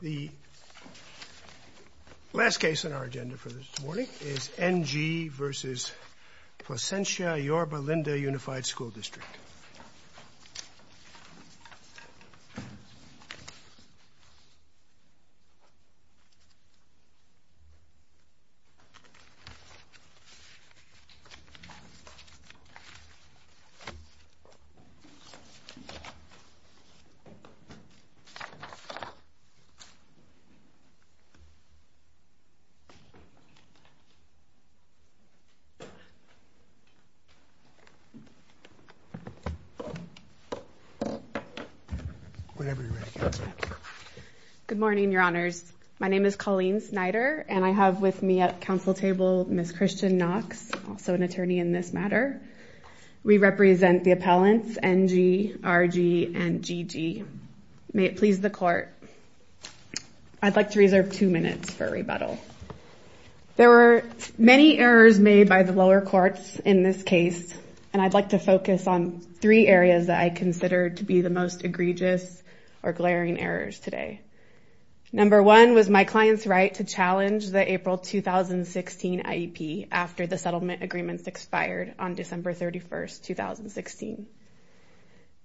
The last case on our agenda for this morning is N. G. v. Placentia Yorba Linda Unified The last case on our agenda for this morning is N. G. v. Placentia Yorba Linda Unified Good morning, your honors. My name is Colleen Snyder, and I have with me at council table Ms. Christian Knox, also an attorney in this matter. We represent the appellants N. G., R. G., and G. G. May it please the court, I'd like to reserve two minutes for rebuttal. There were many errors made by the lower courts in this case, and I'd like to focus on three areas that I consider to be the most egregious or glaring errors today. Number one was my after the settlement agreements expired on December 31st, 2016.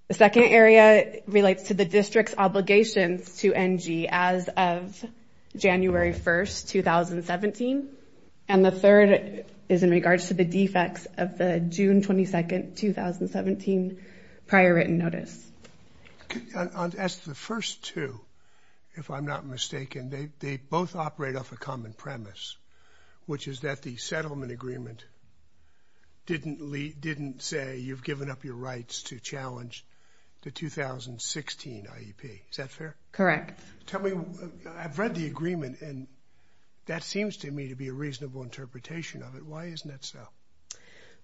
The second area relates to the district's obligations to N. G. as of January 1st, 2017. And the third is in regards to the defects of the June 22nd, 2017 prior written notice. As to the first two, if I'm not mistaken, they both operate off a common premise, which is that the settlement agreement didn't say, you've given up your rights to challenge the 2016 IEP. Is that fair? Correct. Tell me, I've read the agreement, and that seems to me to be a reasonable interpretation of it. Why isn't that so?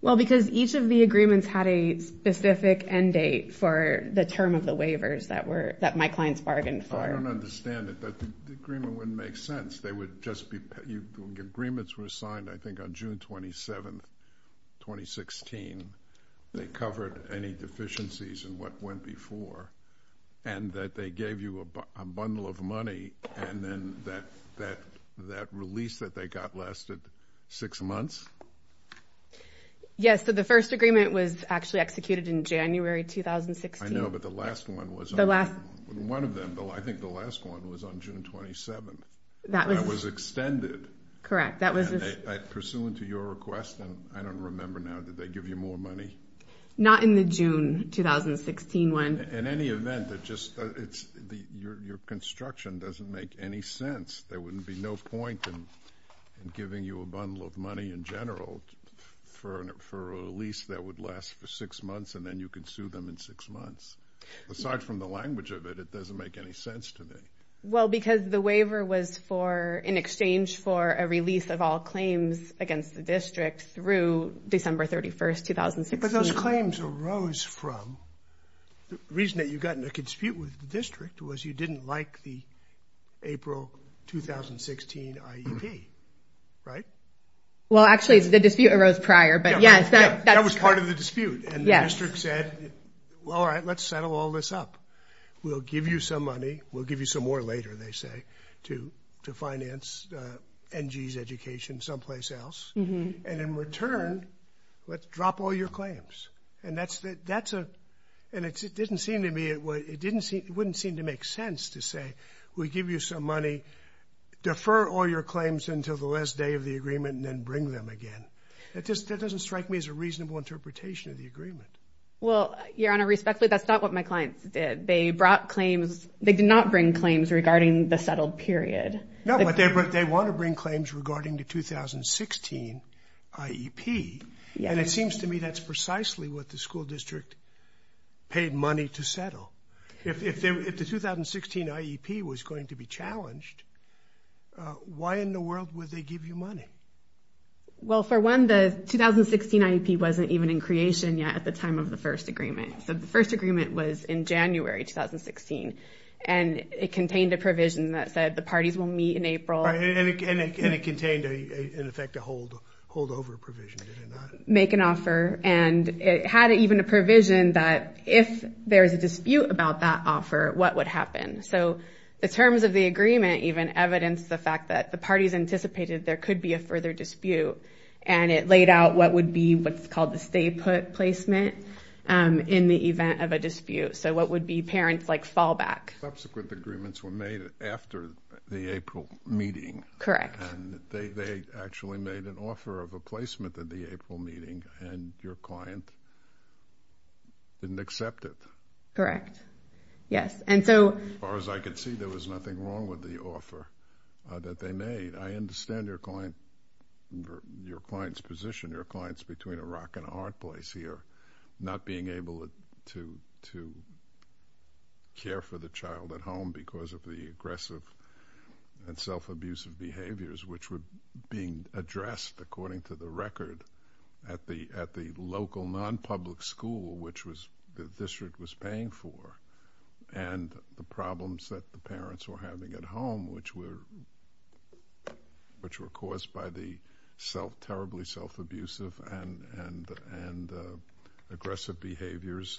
Well, because each of the agreements had a specific end date for the term of the waivers that my clients bargained for. I don't understand it. The agreement wouldn't make sense. They would just be, the agreements were signed, I think, on June 27th, 2016. They covered any deficiencies in what went before, and that they gave you a bundle of money, and then that release that they got lasted six months? Yes. So the first agreement was actually executed in January, 2016. I know, but the last one was on- The last- One of them, I think the last one was on June 27th. That was- That was extended. Correct. That was- And pursuant to your request, and I don't remember now, did they give you more money? Not in the June 2016 one. In any event, your construction doesn't make any sense. There wouldn't be no point in giving you a bundle of money in general for a lease that would last for six months, and then you could sue them in six months. Aside from the language of it, it doesn't make any sense to me. Well, because the waiver was for, in exchange for a release of all claims against the district through December 31st, 2016. But those claims arose from, the reason that you got in a dispute with the district was you didn't like the April 2016 IEP, right? Well, actually, the dispute arose prior, but yes, that's- That was part of the dispute. Yes. And the district said, well, all right, let's settle all this up. We'll give you some money. We'll give you some more later, they say, to finance NG's education someplace else. And in return, let's drop all your claims. And it didn't seem to me, it wouldn't seem to make sense to say, we'll give you some money, defer all your claims until the last day of the agreement, and then bring them again. That doesn't strike me as a reasonable interpretation of the agreement. Well, Your Honor, respectfully, that's not what my clients did. They brought claims, they did not bring claims regarding the settled period. No, but they want to bring claims regarding the 2016 IEP. Yes. And it seems to me that's precisely what the school district paid money to settle. If the 2016 IEP was going to be challenged, why in the world would they give you money? Well, for one, the 2016 IEP wasn't even in creation yet at the time of the first agreement. The first agreement was in January 2016, and it contained a provision that said the parties will meet in April. And it contained, in effect, a holdover provision, did it not? Make an offer, and it had even a provision that if there's a dispute about that offer, what would happen? So the terms of the agreement even evidenced the fact that the parties anticipated there could be a further dispute, and it laid out what would be what's called the stay put placement in the event of a dispute. So what would be parents' fallback? Subsequent agreements were made after the April meeting. Correct. And they actually made an offer of a placement at the April meeting, and your client didn't accept it. Correct. Yes. And so... As far as I could see, there was nothing wrong with the offer that they made. I understand your client's position, your client's between a rock and a hard place here, not being able to care for the child at home because of the aggressive and self-abusive behaviors, which were being addressed, according to the record, at the local non-public school, which the were caused by the terribly self-abusive and aggressive behaviors,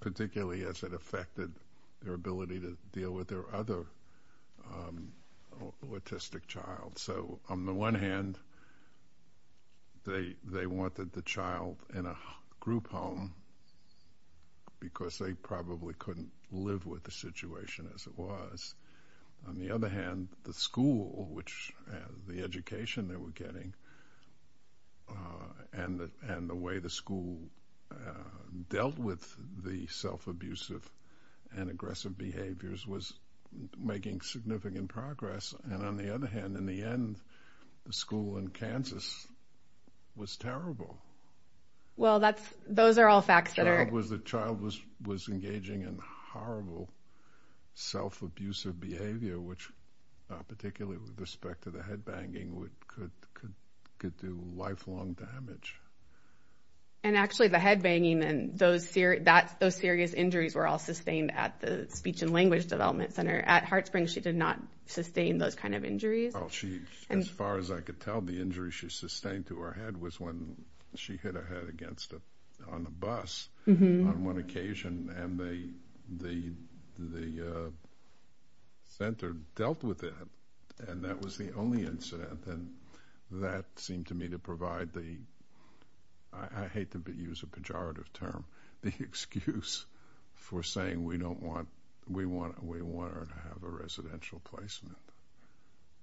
particularly as it affected their ability to deal with their other autistic child. So on the one hand, they wanted the child in a group home because they probably couldn't live with the situation as it was. On the other hand, the school, which the education they were getting, and the way the school dealt with the self-abusive and aggressive behaviors was making significant progress. And on the other hand, in the end, the school in Kansas was terrible. Well, those are all facts that are... Because the child was engaging in horrible self-abusive behavior, which, particularly with respect to the headbanging, could do lifelong damage. And actually, the headbanging and those serious injuries were all sustained at the Speech and Language Development Center. At HeartSprings, she did not sustain those kind of injuries. As far as I could tell, the injury she sustained to her head was when she hit her head against a bus on one occasion, and the center dealt with it. And that was the only incident. And that seemed to me to provide the... I hate to use a pejorative term, the excuse for saying we want her to have a residential placement.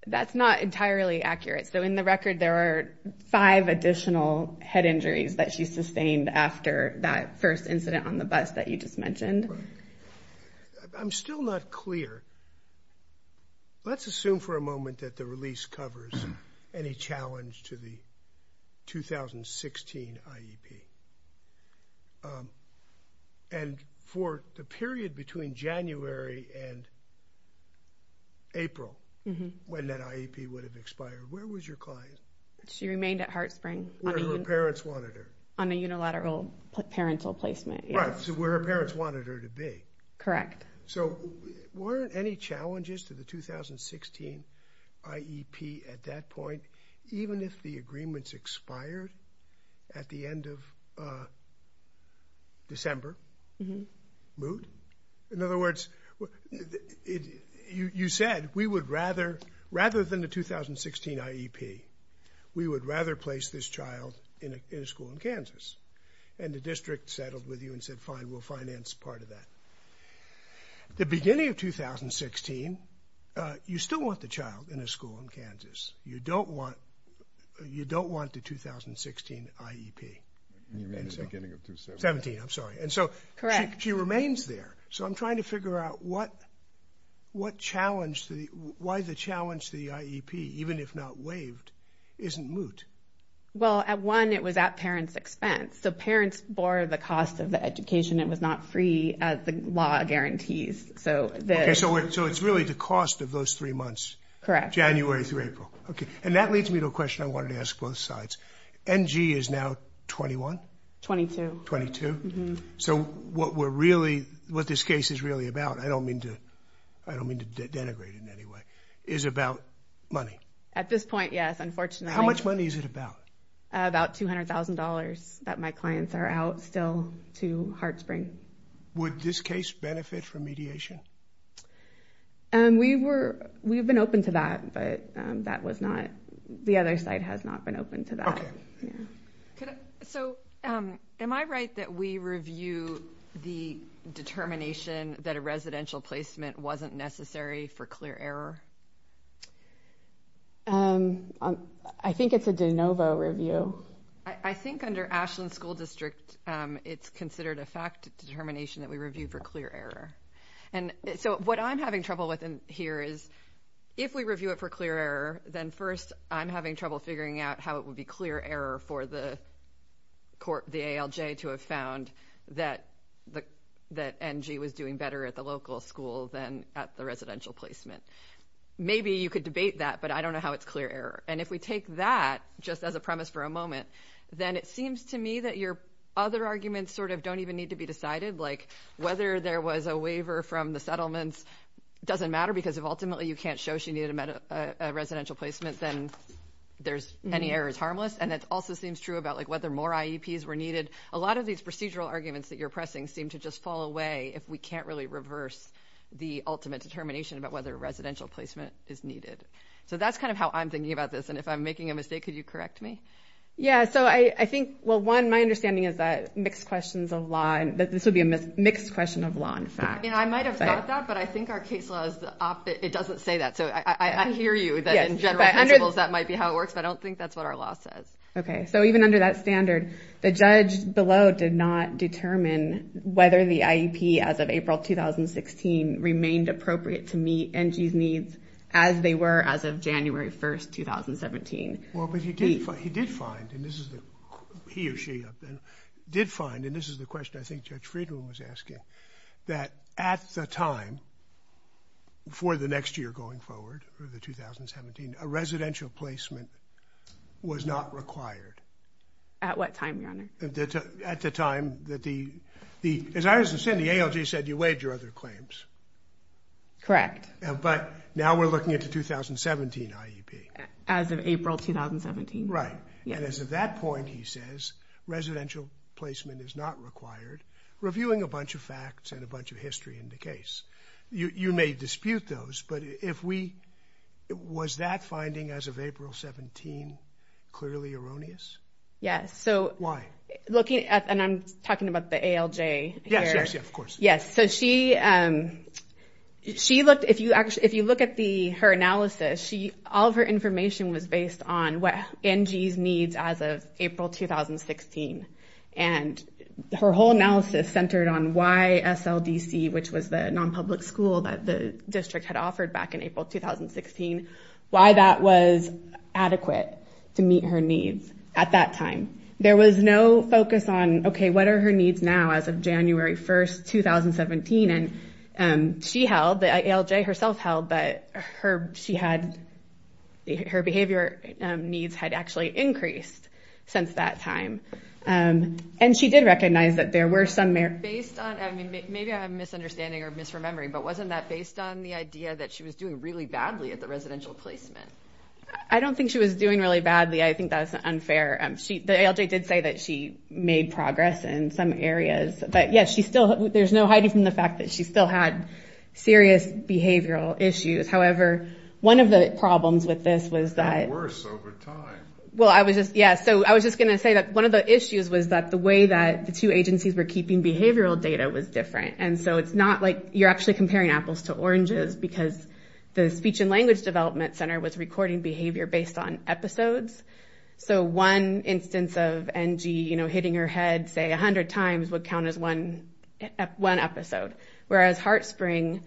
That's not entirely accurate. So in the record, there are five additional head injuries that she sustained after that first incident on the bus that you just mentioned. I'm still not clear. Let's assume for a moment that the release covers any challenge to the 2016 IEP. And for the period between January and April, when that IEP would have expired, where was your client? She remained at HeartSprings. Where her parents wanted her. On a unilateral parental placement. Right. So where her parents wanted her to be. Correct. So weren't any challenges to the 2016 IEP at that point, even if the agreements expired at the end of December, moot? In other words, you said, rather than the 2016 IEP, we would rather place this child in a school in Kansas. And the district settled with you and said, fine, we'll finance part of that. The beginning of 2016, you still want the child in a school in Kansas. You don't want the 2016 IEP. Beginning of 2017. 17, I'm sorry. Correct. And so she remains there. So I'm trying to figure out what challenge, why the challenge to the IEP, even if not waived, isn't moot? Well, at one, it was at parents' expense. So parents bore the cost of the education. It was not free as the law guarantees. So it's really the cost of those three months. Correct. January through April. Okay. And that leads me to a question I wanted to ask both sides. NG is now 21? 22. 22. So what we're really, what this case is really about, I don't mean to denigrate it anyway, is about money. At this point, yes, unfortunately. How much money is it about? About $200,000 that my clients are out still to HeartSpring. Would this case benefit from mediation? We were, we've been open to that, but that was not, the other side has not been open to that. Okay. So am I right that we review the determination that a residential placement wasn't necessary for clear error? I think it's a de novo review. I think under Ashland School District, it's considered a fact determination that we review for clear error. And so what I'm having trouble with here is, if we review it for clear error, then first I'm having trouble figuring out how it would be clear error for the court, the ALJ, to have found that NG was doing better at the local school than at the residential placement. Maybe you could debate that, but I don't know how it's clear error. And if we take that just as a premise for a moment, then it seems to me that your other arguments sort of don't even need to be decided, like whether there was a waiver from the settlements doesn't matter, because if ultimately you can't show she needed a residential placement, then there's, any error is harmless. And that also seems true about like whether more IEPs were needed. A lot of these procedural arguments that you're pressing seem to just fall away if we can't really reverse the ultimate determination about whether a residential placement is needed. So that's kind of how I'm thinking about this, and if I'm making a mistake, could you correct me? Yeah, so I think, well, one, my understanding is that mixed questions of law, that this would be a mixed question of law and fact. Yeah, I might have thought that, but I think our case law is the opposite. It doesn't say that, so I hear you that in general principles that might be how it works, but I don't think that's what our law says. Okay, so even under that standard, the judge below did not determine whether the IEP as of April 2016 remained appropriate to meet NG's needs as they were as of January 1st, 2017. Well, but he did find, and this is the, he or she did find, and this is the question I think Judge Friedman was asking, that at the time, for the next year going forward, for the 2017, a residential placement was not required. At what time, Your Honor? At the time that the, as I understand, the ALJ said you waived your other claims. Correct. But now we're looking at the 2017 IEP. As of April 2017. Right, and as of that point, he says, residential placement is not required, reviewing a bunch of facts and a bunch of history in the case. You may dispute those, but if we, was that finding as of April 17 clearly erroneous? Yes, so. Why? Looking at, and I'm talking about the ALJ here. Yes, yes, yes, of course. Yes, so she, she looked, if you actually, if you look at the, her analysis, she, all of her information was based on what NG's needs as of April 2016, and her whole analysis centered on why SLDC, which was the non-public school that the district had offered back in April 2016, why that was adequate to meet her needs at that time. There was no focus on, okay, what are her needs now as of January 1st, 2017, and she held, the ALJ herself held that her, she had, her behavior needs had actually increased since that time, and she did recognize that there were some. Based on, I mean, maybe I'm misunderstanding or misremembering, but wasn't that based on the idea that she was doing really badly at the residential placement? I don't think she was doing really badly. I think that's unfair. She, the ALJ did say that she made progress in some areas, but yes, she still, there's no hiding from the fact that she still had serious behavioral issues. However, one of the problems with this was that- It got worse over time. Well, I was just, yeah, so I was just going to say that one of the issues was that the way that the two agencies were keeping behavioral data was different, and so it's not like you're actually comparing apples to oranges because the Speech and Language Development Center was recording behavior based on episodes, so one instance of NG, you know, hitting her head, say, 100 times would count as one episode, whereas HeartSpring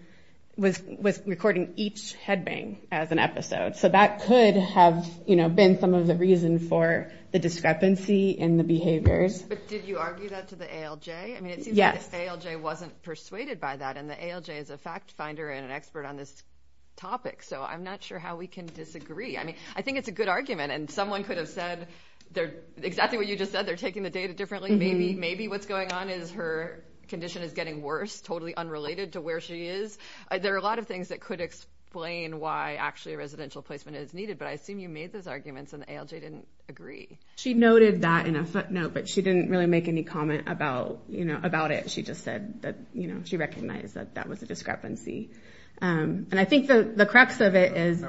was recording each headbang as an episode. So that could have, you know, been some of the reason for the discrepancy in the behaviors. But did you argue that to the ALJ? I mean, it seems like the ALJ wasn't persuaded by that, and the ALJ is a fact finder and an expert on this topic, so I'm not sure how we can disagree. I mean, I think it's a good argument, and someone could have said exactly what you just said, they're taking the data differently. Maybe what's going on is her condition is getting worse, totally unrelated to where she is. There are a lot of things that could explain why actually a residential placement is needed, but I assume you made those arguments and the ALJ didn't agree. She noted that in a footnote, but she didn't really make any comment about it. She just said that, you know, she recognized that that was a discrepancy. And I think the crux of it is—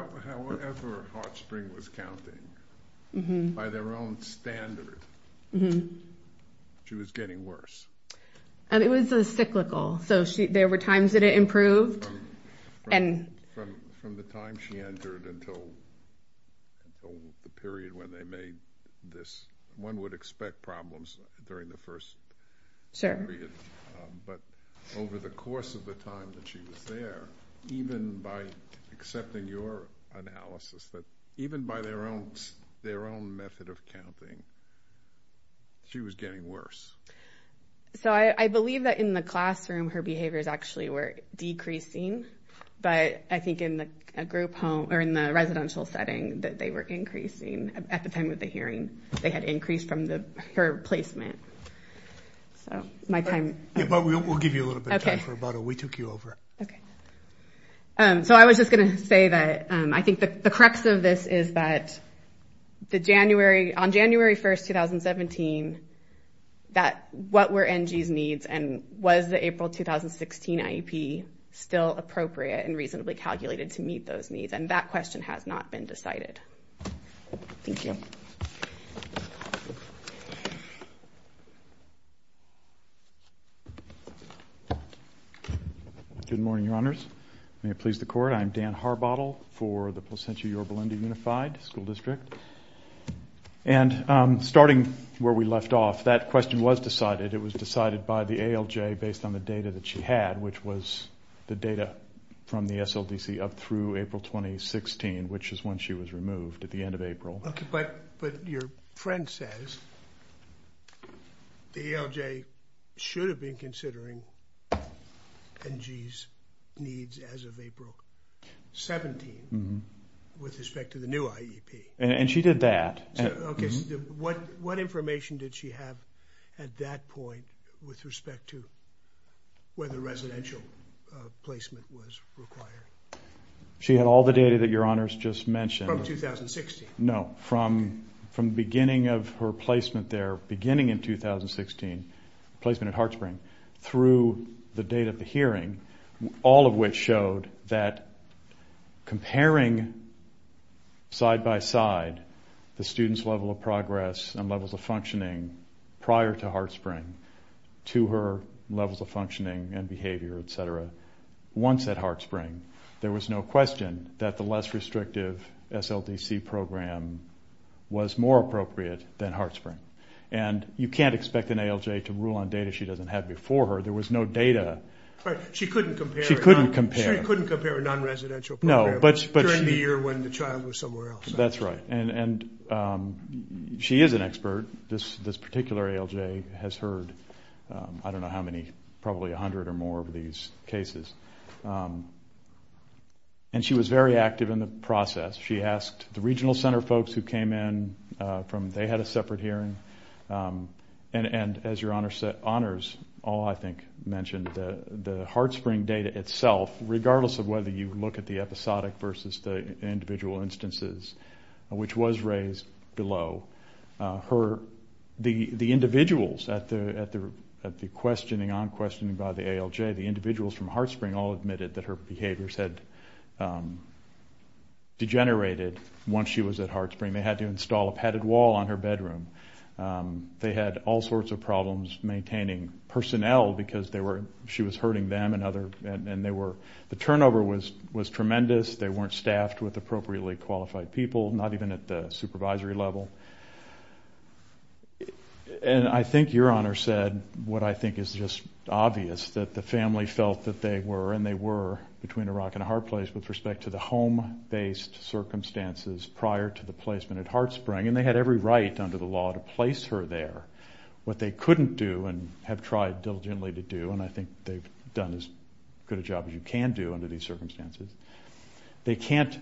She was getting worse. It was cyclical, so there were times that it improved. From the time she entered until the period when they made this, one would expect problems during the first period, but over the course of the time that she was there, even by accepting your analysis, that even by their own method of counting, she was getting worse. So I believe that in the classroom, her behaviors actually were decreasing, but I think in the group home, or in the residential setting, that they were increasing at the time of the hearing. They had increased from her placement. So my time— Okay, but we'll give you a little bit of time for rebuttal. We took you over. Okay. So I was just going to say that I think the crux of this is that on January 1st, 2017, that what were NG's needs and was the April 2016 IEP still appropriate and reasonably calculated to meet those needs? And that question has not been decided. Thank you. Good morning, Your Honors. May it please the Court. I'm Dan Harbottle for the Placentia-Yorba-Linda Unified School District. And starting where we left off, that question was decided. It was decided by the ALJ based on the data that she had, which was the data from the SLDC up through April 2016, which is when she was removed at the end of April. But your friend says the ALJ should have been considering NG's needs as of April 17 with respect to the new IEP. And she did that. What information did she have at that point with respect to whether residential placement was required? She had all the data that Your Honors just mentioned. From 2016? No, from the beginning of her placement there, beginning in 2016, placement at HeartSpring, through the date of the hearing, all of which showed that comparing side-by-side the student's level of progress and levels of functioning prior to HeartSpring to her levels of functioning and behavior, et cetera, once at HeartSpring, there was no question that the less restrictive SLDC program was more appropriate than HeartSpring. And you can't expect an ALJ to rule on data she doesn't have before her. There was no data. Right. She couldn't compare. She couldn't compare. She couldn't compare a non-residential program during the year when the child was somewhere else. That's right. And she is an expert. This particular ALJ has heard I don't know how many, probably 100 or more of these cases. And she was very active in the process. She asked the regional center folks who came in from they had a separate hearing, and as Your Honors all, I think, mentioned, the HeartSpring data itself, regardless of whether you look at the episodic versus the individual instances, which was raised below, the individuals at the questioning on questioning by the ALJ, the individuals from HeartSpring all admitted that her behaviors had degenerated once she was at HeartSpring. They had to install a padded wall on her bedroom. They had all sorts of problems maintaining personnel because she was hurting them and they were the turnover was tremendous. They weren't staffed with appropriately qualified people, not even at the supervisory level. And I think Your Honor said what I think is just obvious, that the family felt that they were, and they were, between a rock and a hard place with respect to the home-based circumstances prior to the placement at HeartSpring, and they had every right under the law to place her there. What they couldn't do and have tried diligently to do, and I think they've done as good a job as you can do under these circumstances, they can't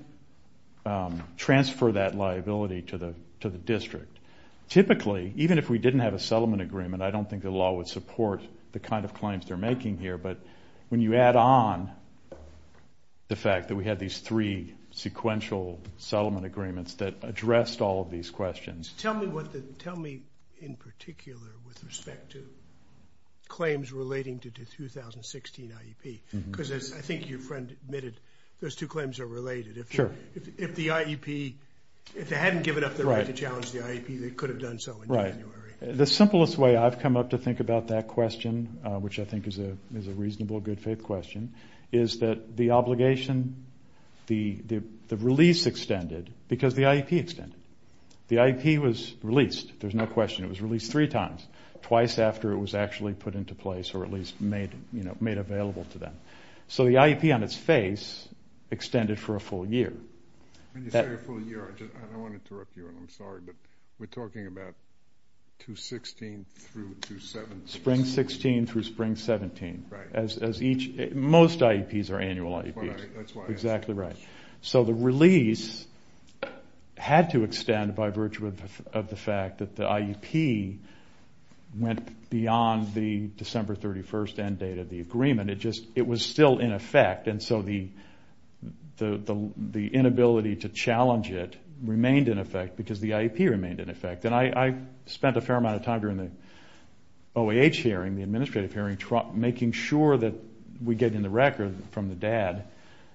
transfer that liability to the district. Typically, even if we didn't have a settlement agreement, I don't think the law would support the kind of claims they're making here, but when you add on the fact that we had these three sequential settlement agreements that addressed all of these questions. Tell me in particular with respect to claims relating to the 2016 IEP because I think your friend admitted those two claims are related. If the IEP, if they hadn't given up the right to challenge the IEP, they could have done so in January. The simplest way I've come up to think about that question, which I think is a reasonable, good-faith question, is that the obligation, the release extended because the IEP extended. The IEP was released, there's no question. It was released three times, twice after it was actually put into place or at least made available to them. So the IEP on its face extended for a full year. When you say a full year, I want to interrupt you. I'm sorry, but we're talking about 2016 through 2017. Spring 16 through spring 17. Right. Most IEPs are annual IEPs. That's why. Exactly right. So the release had to extend by virtue of the fact that the IEP went beyond the December 31st end date of the agreement. It was still in effect, and so the inability to challenge it remained in effect because the IEP remained in effect. And I spent a fair amount of time during the OAH hearing, the administrative hearing, making sure that we get in the record from the dad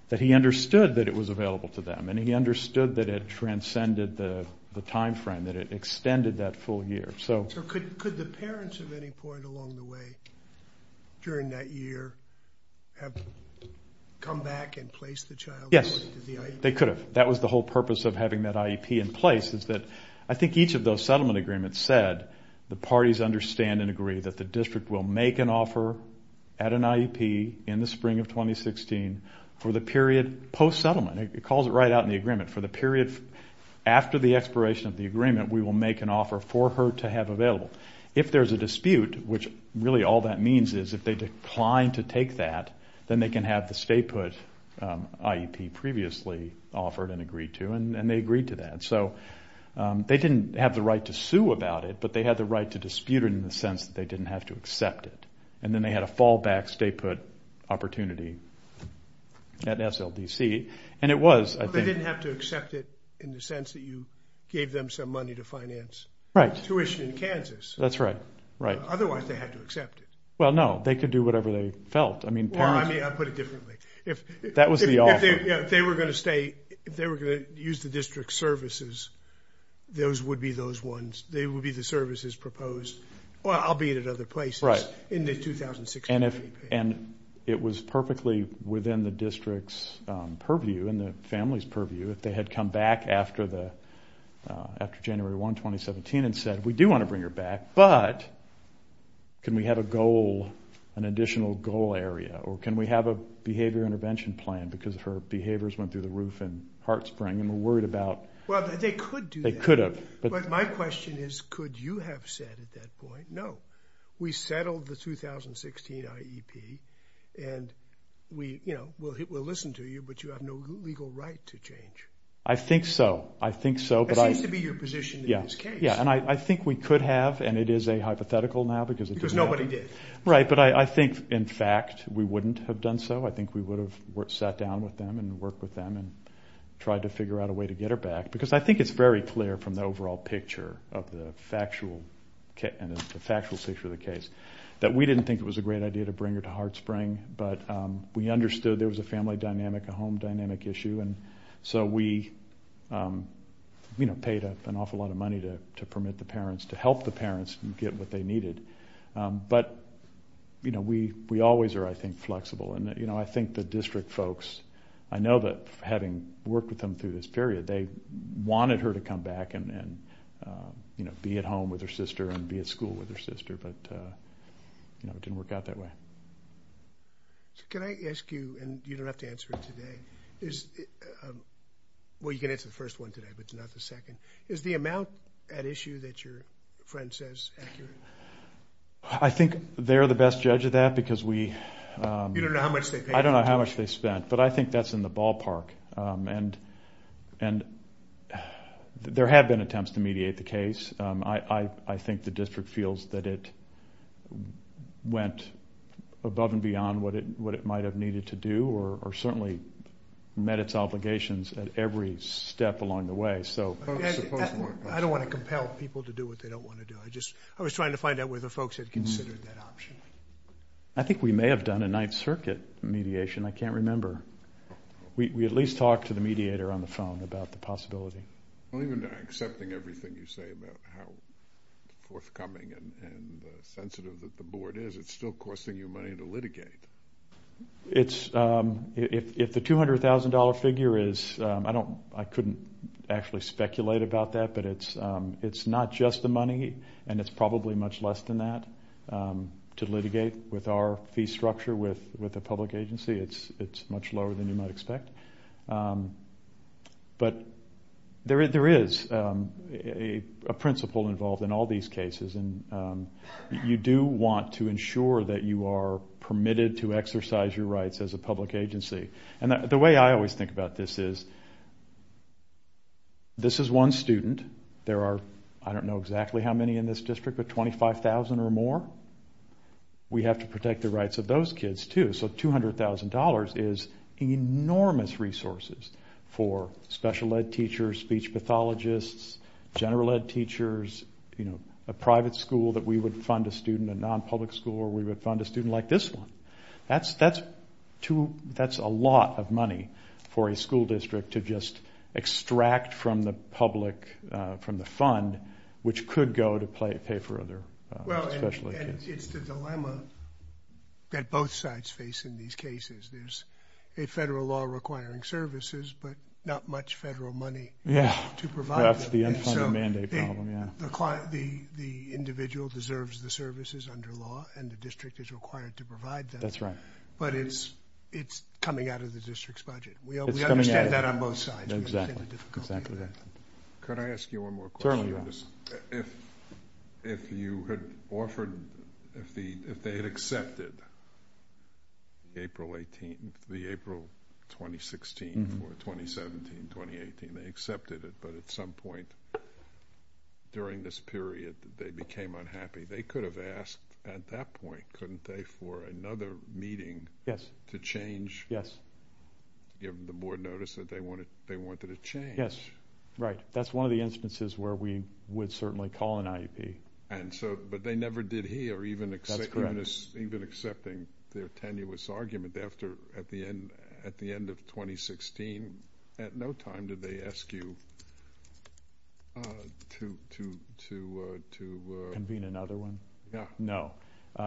that he understood that it was available to them and he understood that it transcended the time frame, that it extended that full year. So could the parents of any point along the way during that year have come back and placed the child? Yes, they could have. That was the whole purpose of having that IEP in place is that I think each of those settlement agreements said the parties understand and agree that the district will make an offer at an IEP in the spring of 2016 for the period post-settlement. It calls it right out in the agreement. For the period after the expiration of the agreement, we will make an offer for her to have available. If there's a dispute, which really all that means is if they decline to take that, then they can have the stay-put IEP previously offered and agreed to, and they agreed to that. So they didn't have the right to sue about it, but they had the right to dispute it in the sense that they didn't have to accept it. And then they had a fallback stay-put opportunity at SLDC, and it was, I think. They didn't have to accept it in the sense that you gave them some money to finance tuition in Kansas. That's right. Otherwise, they had to accept it. Well, no. They could do whatever they felt. Well, I mean, I'll put it differently. That was the offer. If they were going to use the district services, those would be those ones. They would be the services proposed, albeit at other places, in the 2016 IEP. And it was perfectly within the district's purview and the family's purview if they had come back after January 1, 2017, and said, we do want to bring her back, but can we have a goal, an additional goal area, or can we have a behavior intervention plan because her behaviors went through the roof and heart spring and we're worried about. Well, they could do that. They could have. But my question is, could you have said at that point, no, we settled the 2016 IEP and we'll listen to you, but you have no legal right to change? I think so. I think so. That seems to be your position in this case. Yeah, and I think we could have, and it is a hypothetical now because it didn't happen. Because nobody did. Right, but I think, in fact, we wouldn't have done so. I think we would have sat down with them and worked with them and tried to figure out a way to get her back because I think it's very clear from the overall picture of the factual picture of the case that we didn't think it was a great idea to bring her to heart spring, but we understood there was a family dynamic, a home dynamic issue, and so we paid an awful lot of money to permit the parents to help the parents get what they needed. But we always are, I think, flexible, and I think the district folks, I know that having worked with them through this period, they wanted her to come back and be at home with her sister and be at school with her sister, but it didn't work out that way. Can I ask you, and you don't have to answer it today. Well, you can answer the first one today, but not the second. Is the amount at issue that your friend says accurate? I think they're the best judge of that because we don't know how much they spent, but I think that's in the ballpark, and there have been attempts to mediate the case. I think the district feels that it went above and beyond what it might have needed to do or certainly met its obligations at every step along the way. I don't want to compel people to do what they don't want to do. I was trying to find out whether folks had considered that option. I think we may have done a Ninth Circuit mediation. I can't remember. We at least talked to the mediator on the phone about the possibility. Even accepting everything you say about how forthcoming and sensitive that the board is, it's still costing you money to litigate. If the $200,000 figure is, I couldn't actually speculate about that, but it's not just the money, and it's probably much less than that. To litigate with our fee structure with a public agency, it's much lower than you might expect. But there is a principle involved in all these cases, and you do want to ensure that you are permitted to exercise your rights as a public agency. The way I always think about this is, this is one student. There are, I don't know exactly how many in this district, but 25,000 or more. We have to protect the rights of those kids, too. So $200,000 is enormous resources for special ed teachers, speech pathologists, general ed teachers, a private school that we would fund a student, a non-public school where we would fund a student like this one. That's a lot of money for a school district to just extract from the public, from the fund, which could go to pay for other special ed kids. Well, and it's the dilemma that both sides face in these cases. There's a federal law requiring services, but not much federal money to provide them. Yeah, that's the unfunded mandate problem, yeah. The individual deserves the services under law, and the district is required to provide them. That's right. But it's coming out of the district's budget. We understand that on both sides. Exactly, exactly. Could I ask you one more question? Certainly, Your Honor. If you had offered, if they had accepted April 18th, the April 2016, or 2017, 2018, they accepted it, but at some point during this period they became unhappy, they could have asked at that point, couldn't they, for another meeting to change? Yes. Give the board notice that they wanted a change. Yes, right. That's one of the instances where we would certainly call an IEP. But they never did here, even accepting their tenuous argument. At the end of 2016, at no time did they ask you to convene another one? No. No.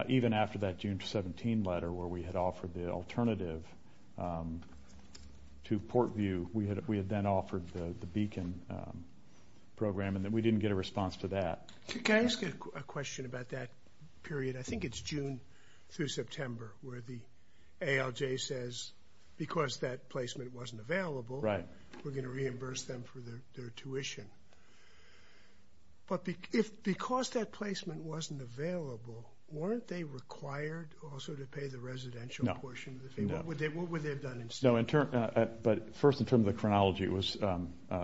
Even after that June 17 letter where we had offered the alternative to Portview, we had then offered the Beacon program, and we didn't get a response to that. Can I ask you a question about that period? I think it's June through September where the ALJ says, because that placement wasn't available, we're going to reimburse them for their tuition. But because that placement wasn't available, weren't they required also to pay the residential portion of the fee? No. What would they have done instead? No, but first in terms of the chronology, it was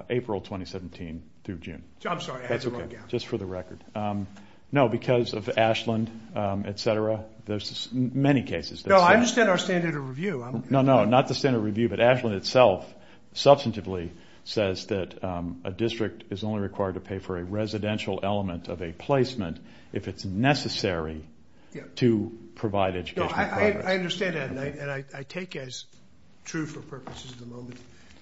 April 2017 through June. I'm sorry, I had the wrong guess. That's okay. Just for the record. No, because of Ashland, et cetera, there's many cases. No, I understand our standard of review. No, no, not the standard of review, but Ashland itself substantively says that a district is only required to pay for a residential element of a placement if it's necessary to provide education. I understand that, and I take as true for purposes of the moment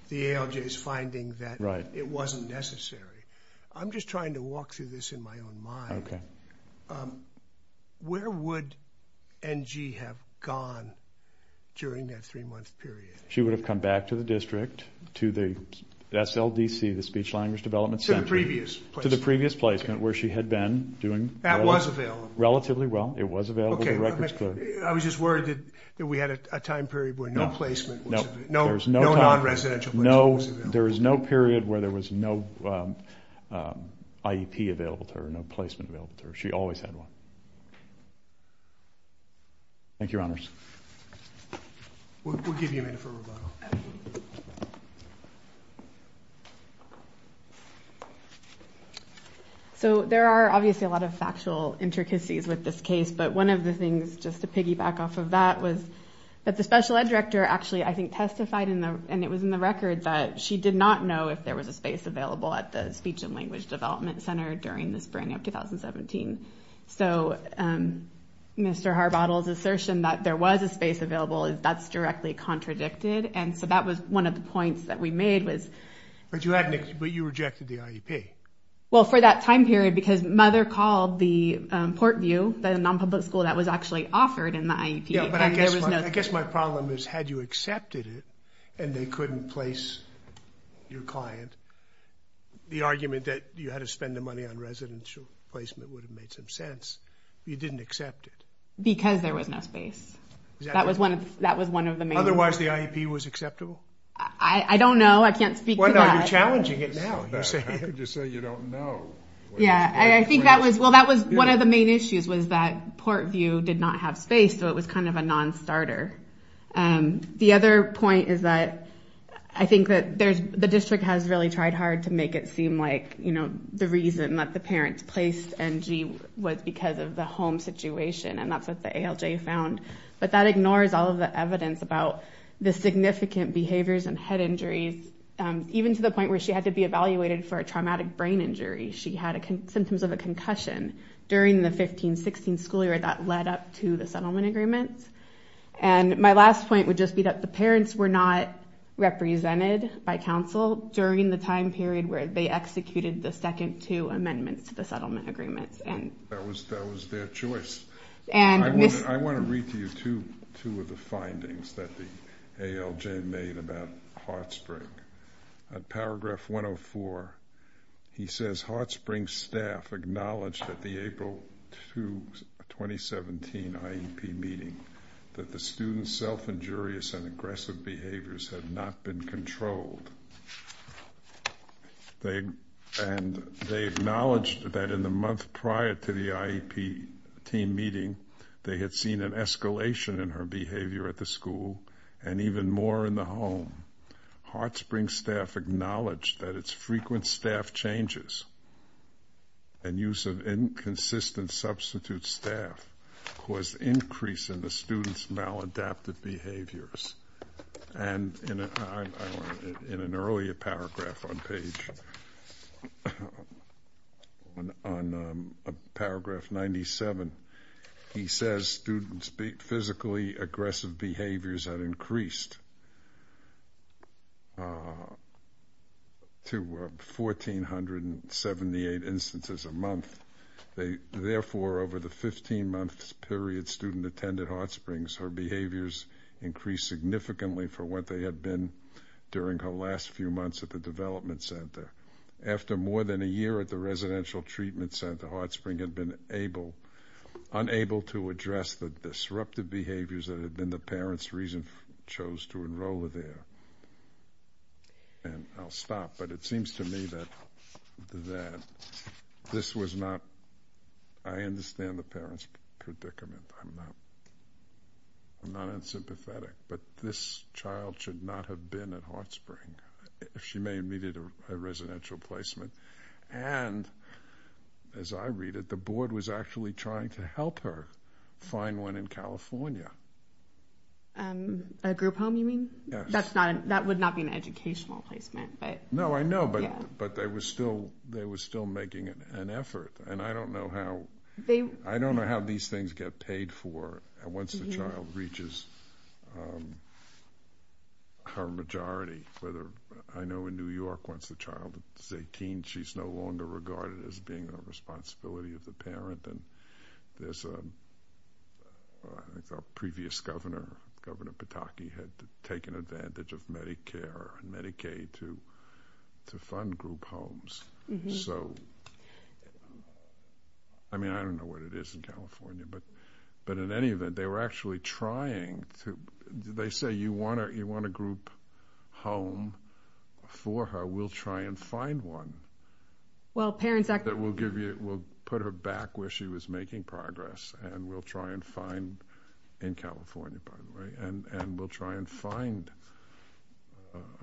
the ALJ's finding that it wasn't necessary. I'm just trying to walk through this in my own mind. Okay. Where would NG have gone during that three-month period? She would have come back to the district, to the SLDC, the Speech-Language Development Center. To the previous placement. To the previous placement where she had been doing relatively well. That was available. It was available, the record's clear. Okay, I was just worried that we had a time period where no placement was available. No, there was no time. No non-residential placement was available. There was no period where there was no IEP available to her, no placement available to her. She always had one. Thank you, Your Honors. We'll give you a minute for rebuttal. So there are obviously a lot of factual intricacies with this case, but one of the things, just to piggyback off of that, was that the special ed director actually, I think, testified, and it was in the record, that she did not know if there was a space available at the Speech and Language Development Center during the spring of 2017. So Mr. Harbottle's assertion that there was a space available, that's directly contradicted, and so that was one of the points that we made was. But you rejected the IEP. Well, for that time period, because Mother called the Portview, the non-public school that was actually offered in the IEP. I guess my problem is, had you accepted it, and they couldn't place your client, the argument that you had to spend the money on residential placement would have made some sense. You didn't accept it. Because there was no space. That was one of the main. Otherwise, the IEP was acceptable? I don't know. I can't speak to that. Well, now you're challenging it now. I could just say you don't know. Yeah, I think that was, well, that was one of the main issues was that Portview did not have space, so it was kind of a non-starter. The other point is that I think that the district has really tried hard to make it seem like the reason that the parents placed Angie was because of the home situation, and that's what the ALJ found. But that ignores all of the evidence about the significant behaviors and head injuries, even to the point where she had to be evaluated for a traumatic brain injury. She had symptoms of a concussion during the 15-16 school year that led up to the settlement agreements. And my last point would just be that the parents were not represented by counsel during the time period where they executed the second two amendments to the settlement agreements. That was their choice. I want to read to you two of the findings that the ALJ made about Hartspring. Paragraph 104, he says, Hartspring staff acknowledged at the April 2, 2017 IEP meeting that the student's self-injurious and aggressive behaviors had not been controlled. And they acknowledged that in the month prior to the IEP team meeting they had seen an escalation in her behavior at the school and even more in the home. Hartspring staff acknowledged that its frequent staff changes and use of inconsistent substitute staff caused an increase in the student's maladaptive behaviors. And in an earlier paragraph on page 97, he says students' physically aggressive behaviors had increased to 1,478 instances a month. Therefore, over the 15-month period student attended Hartspring, her behaviors increased significantly for what they had been during her last few months at the development center. After more than a year at the residential treatment center, Hartspring had been unable to address the disruptive behaviors that had been the parents' reason for choosing to enroll her there. And I'll stop, but it seems to me that this was not, I understand the parents' predicament. I'm not unsympathetic. But this child should not have been at Hartspring if she may have needed a residential placement. And as I read it, the board was actually trying to help her find one in California. A group home, you mean? Yes. That would not be an educational placement. No, I know, but they were still making an effort. And I don't know how these things get paid for once the child reaches her majority. I know in New York, once the child is 18, she's no longer regarded as being a responsibility of the parent. And there's a previous governor, Governor Pataki, had taken advantage of Medicare and Medicaid to fund group homes. So, I mean, I don't know what it is in California. But in any event, they were actually trying to, they say, you want a group home for her? We'll try and find one that will put her back where she was making progress. And we'll try and find, in California, by the way, and we'll try and find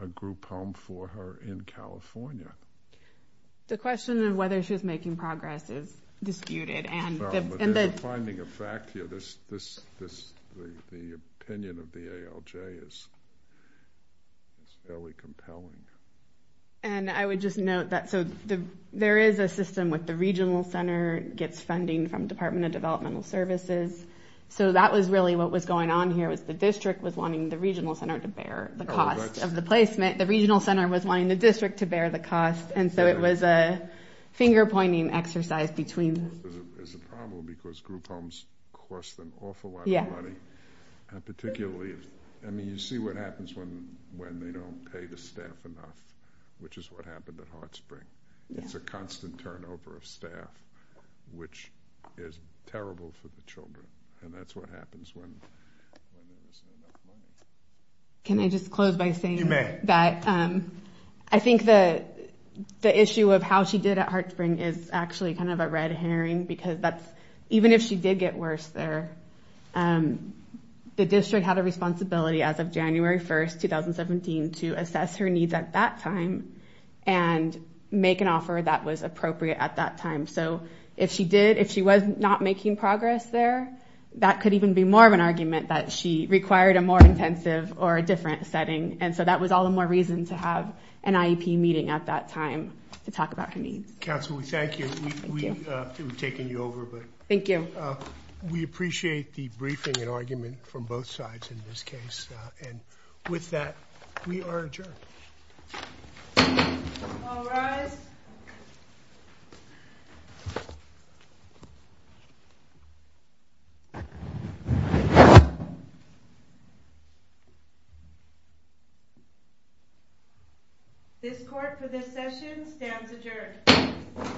a group home for her in California. The question of whether she was making progress is disputed. There's a finding of fact here. The opinion of the ALJ is fairly compelling. And I would just note that there is a system where the regional center gets funding from the Department of Developmental Services. So that was really what was going on here, was the district was wanting the regional center to bear the cost of the placement. The regional center was wanting the district to bear the cost. And so it was a finger-pointing exercise between... It's a problem because group homes cost an awful lot of money. And particularly, I mean, you see what happens when they don't pay the staff enough, which is what happened at HeartSpring. It's a constant turnover of staff, which is terrible for the children. Can I just close by saying that... You may. I think the issue of how she did at HeartSpring is actually kind of a red herring because even if she did get worse there, the district had a responsibility as of January 1st, 2017, to assess her needs at that time and make an offer that was appropriate at that time. So if she was not making progress there, that could even be more of an argument that she required a more intensive or a different setting. And so that was all the more reason to have an IEP meeting at that time to talk about her needs. Council, we thank you. Thank you. We've taken you over. Thank you. We appreciate the briefing and argument from both sides in this case. And with that, we are adjourned. All rise. This court, for this session, stands adjourned.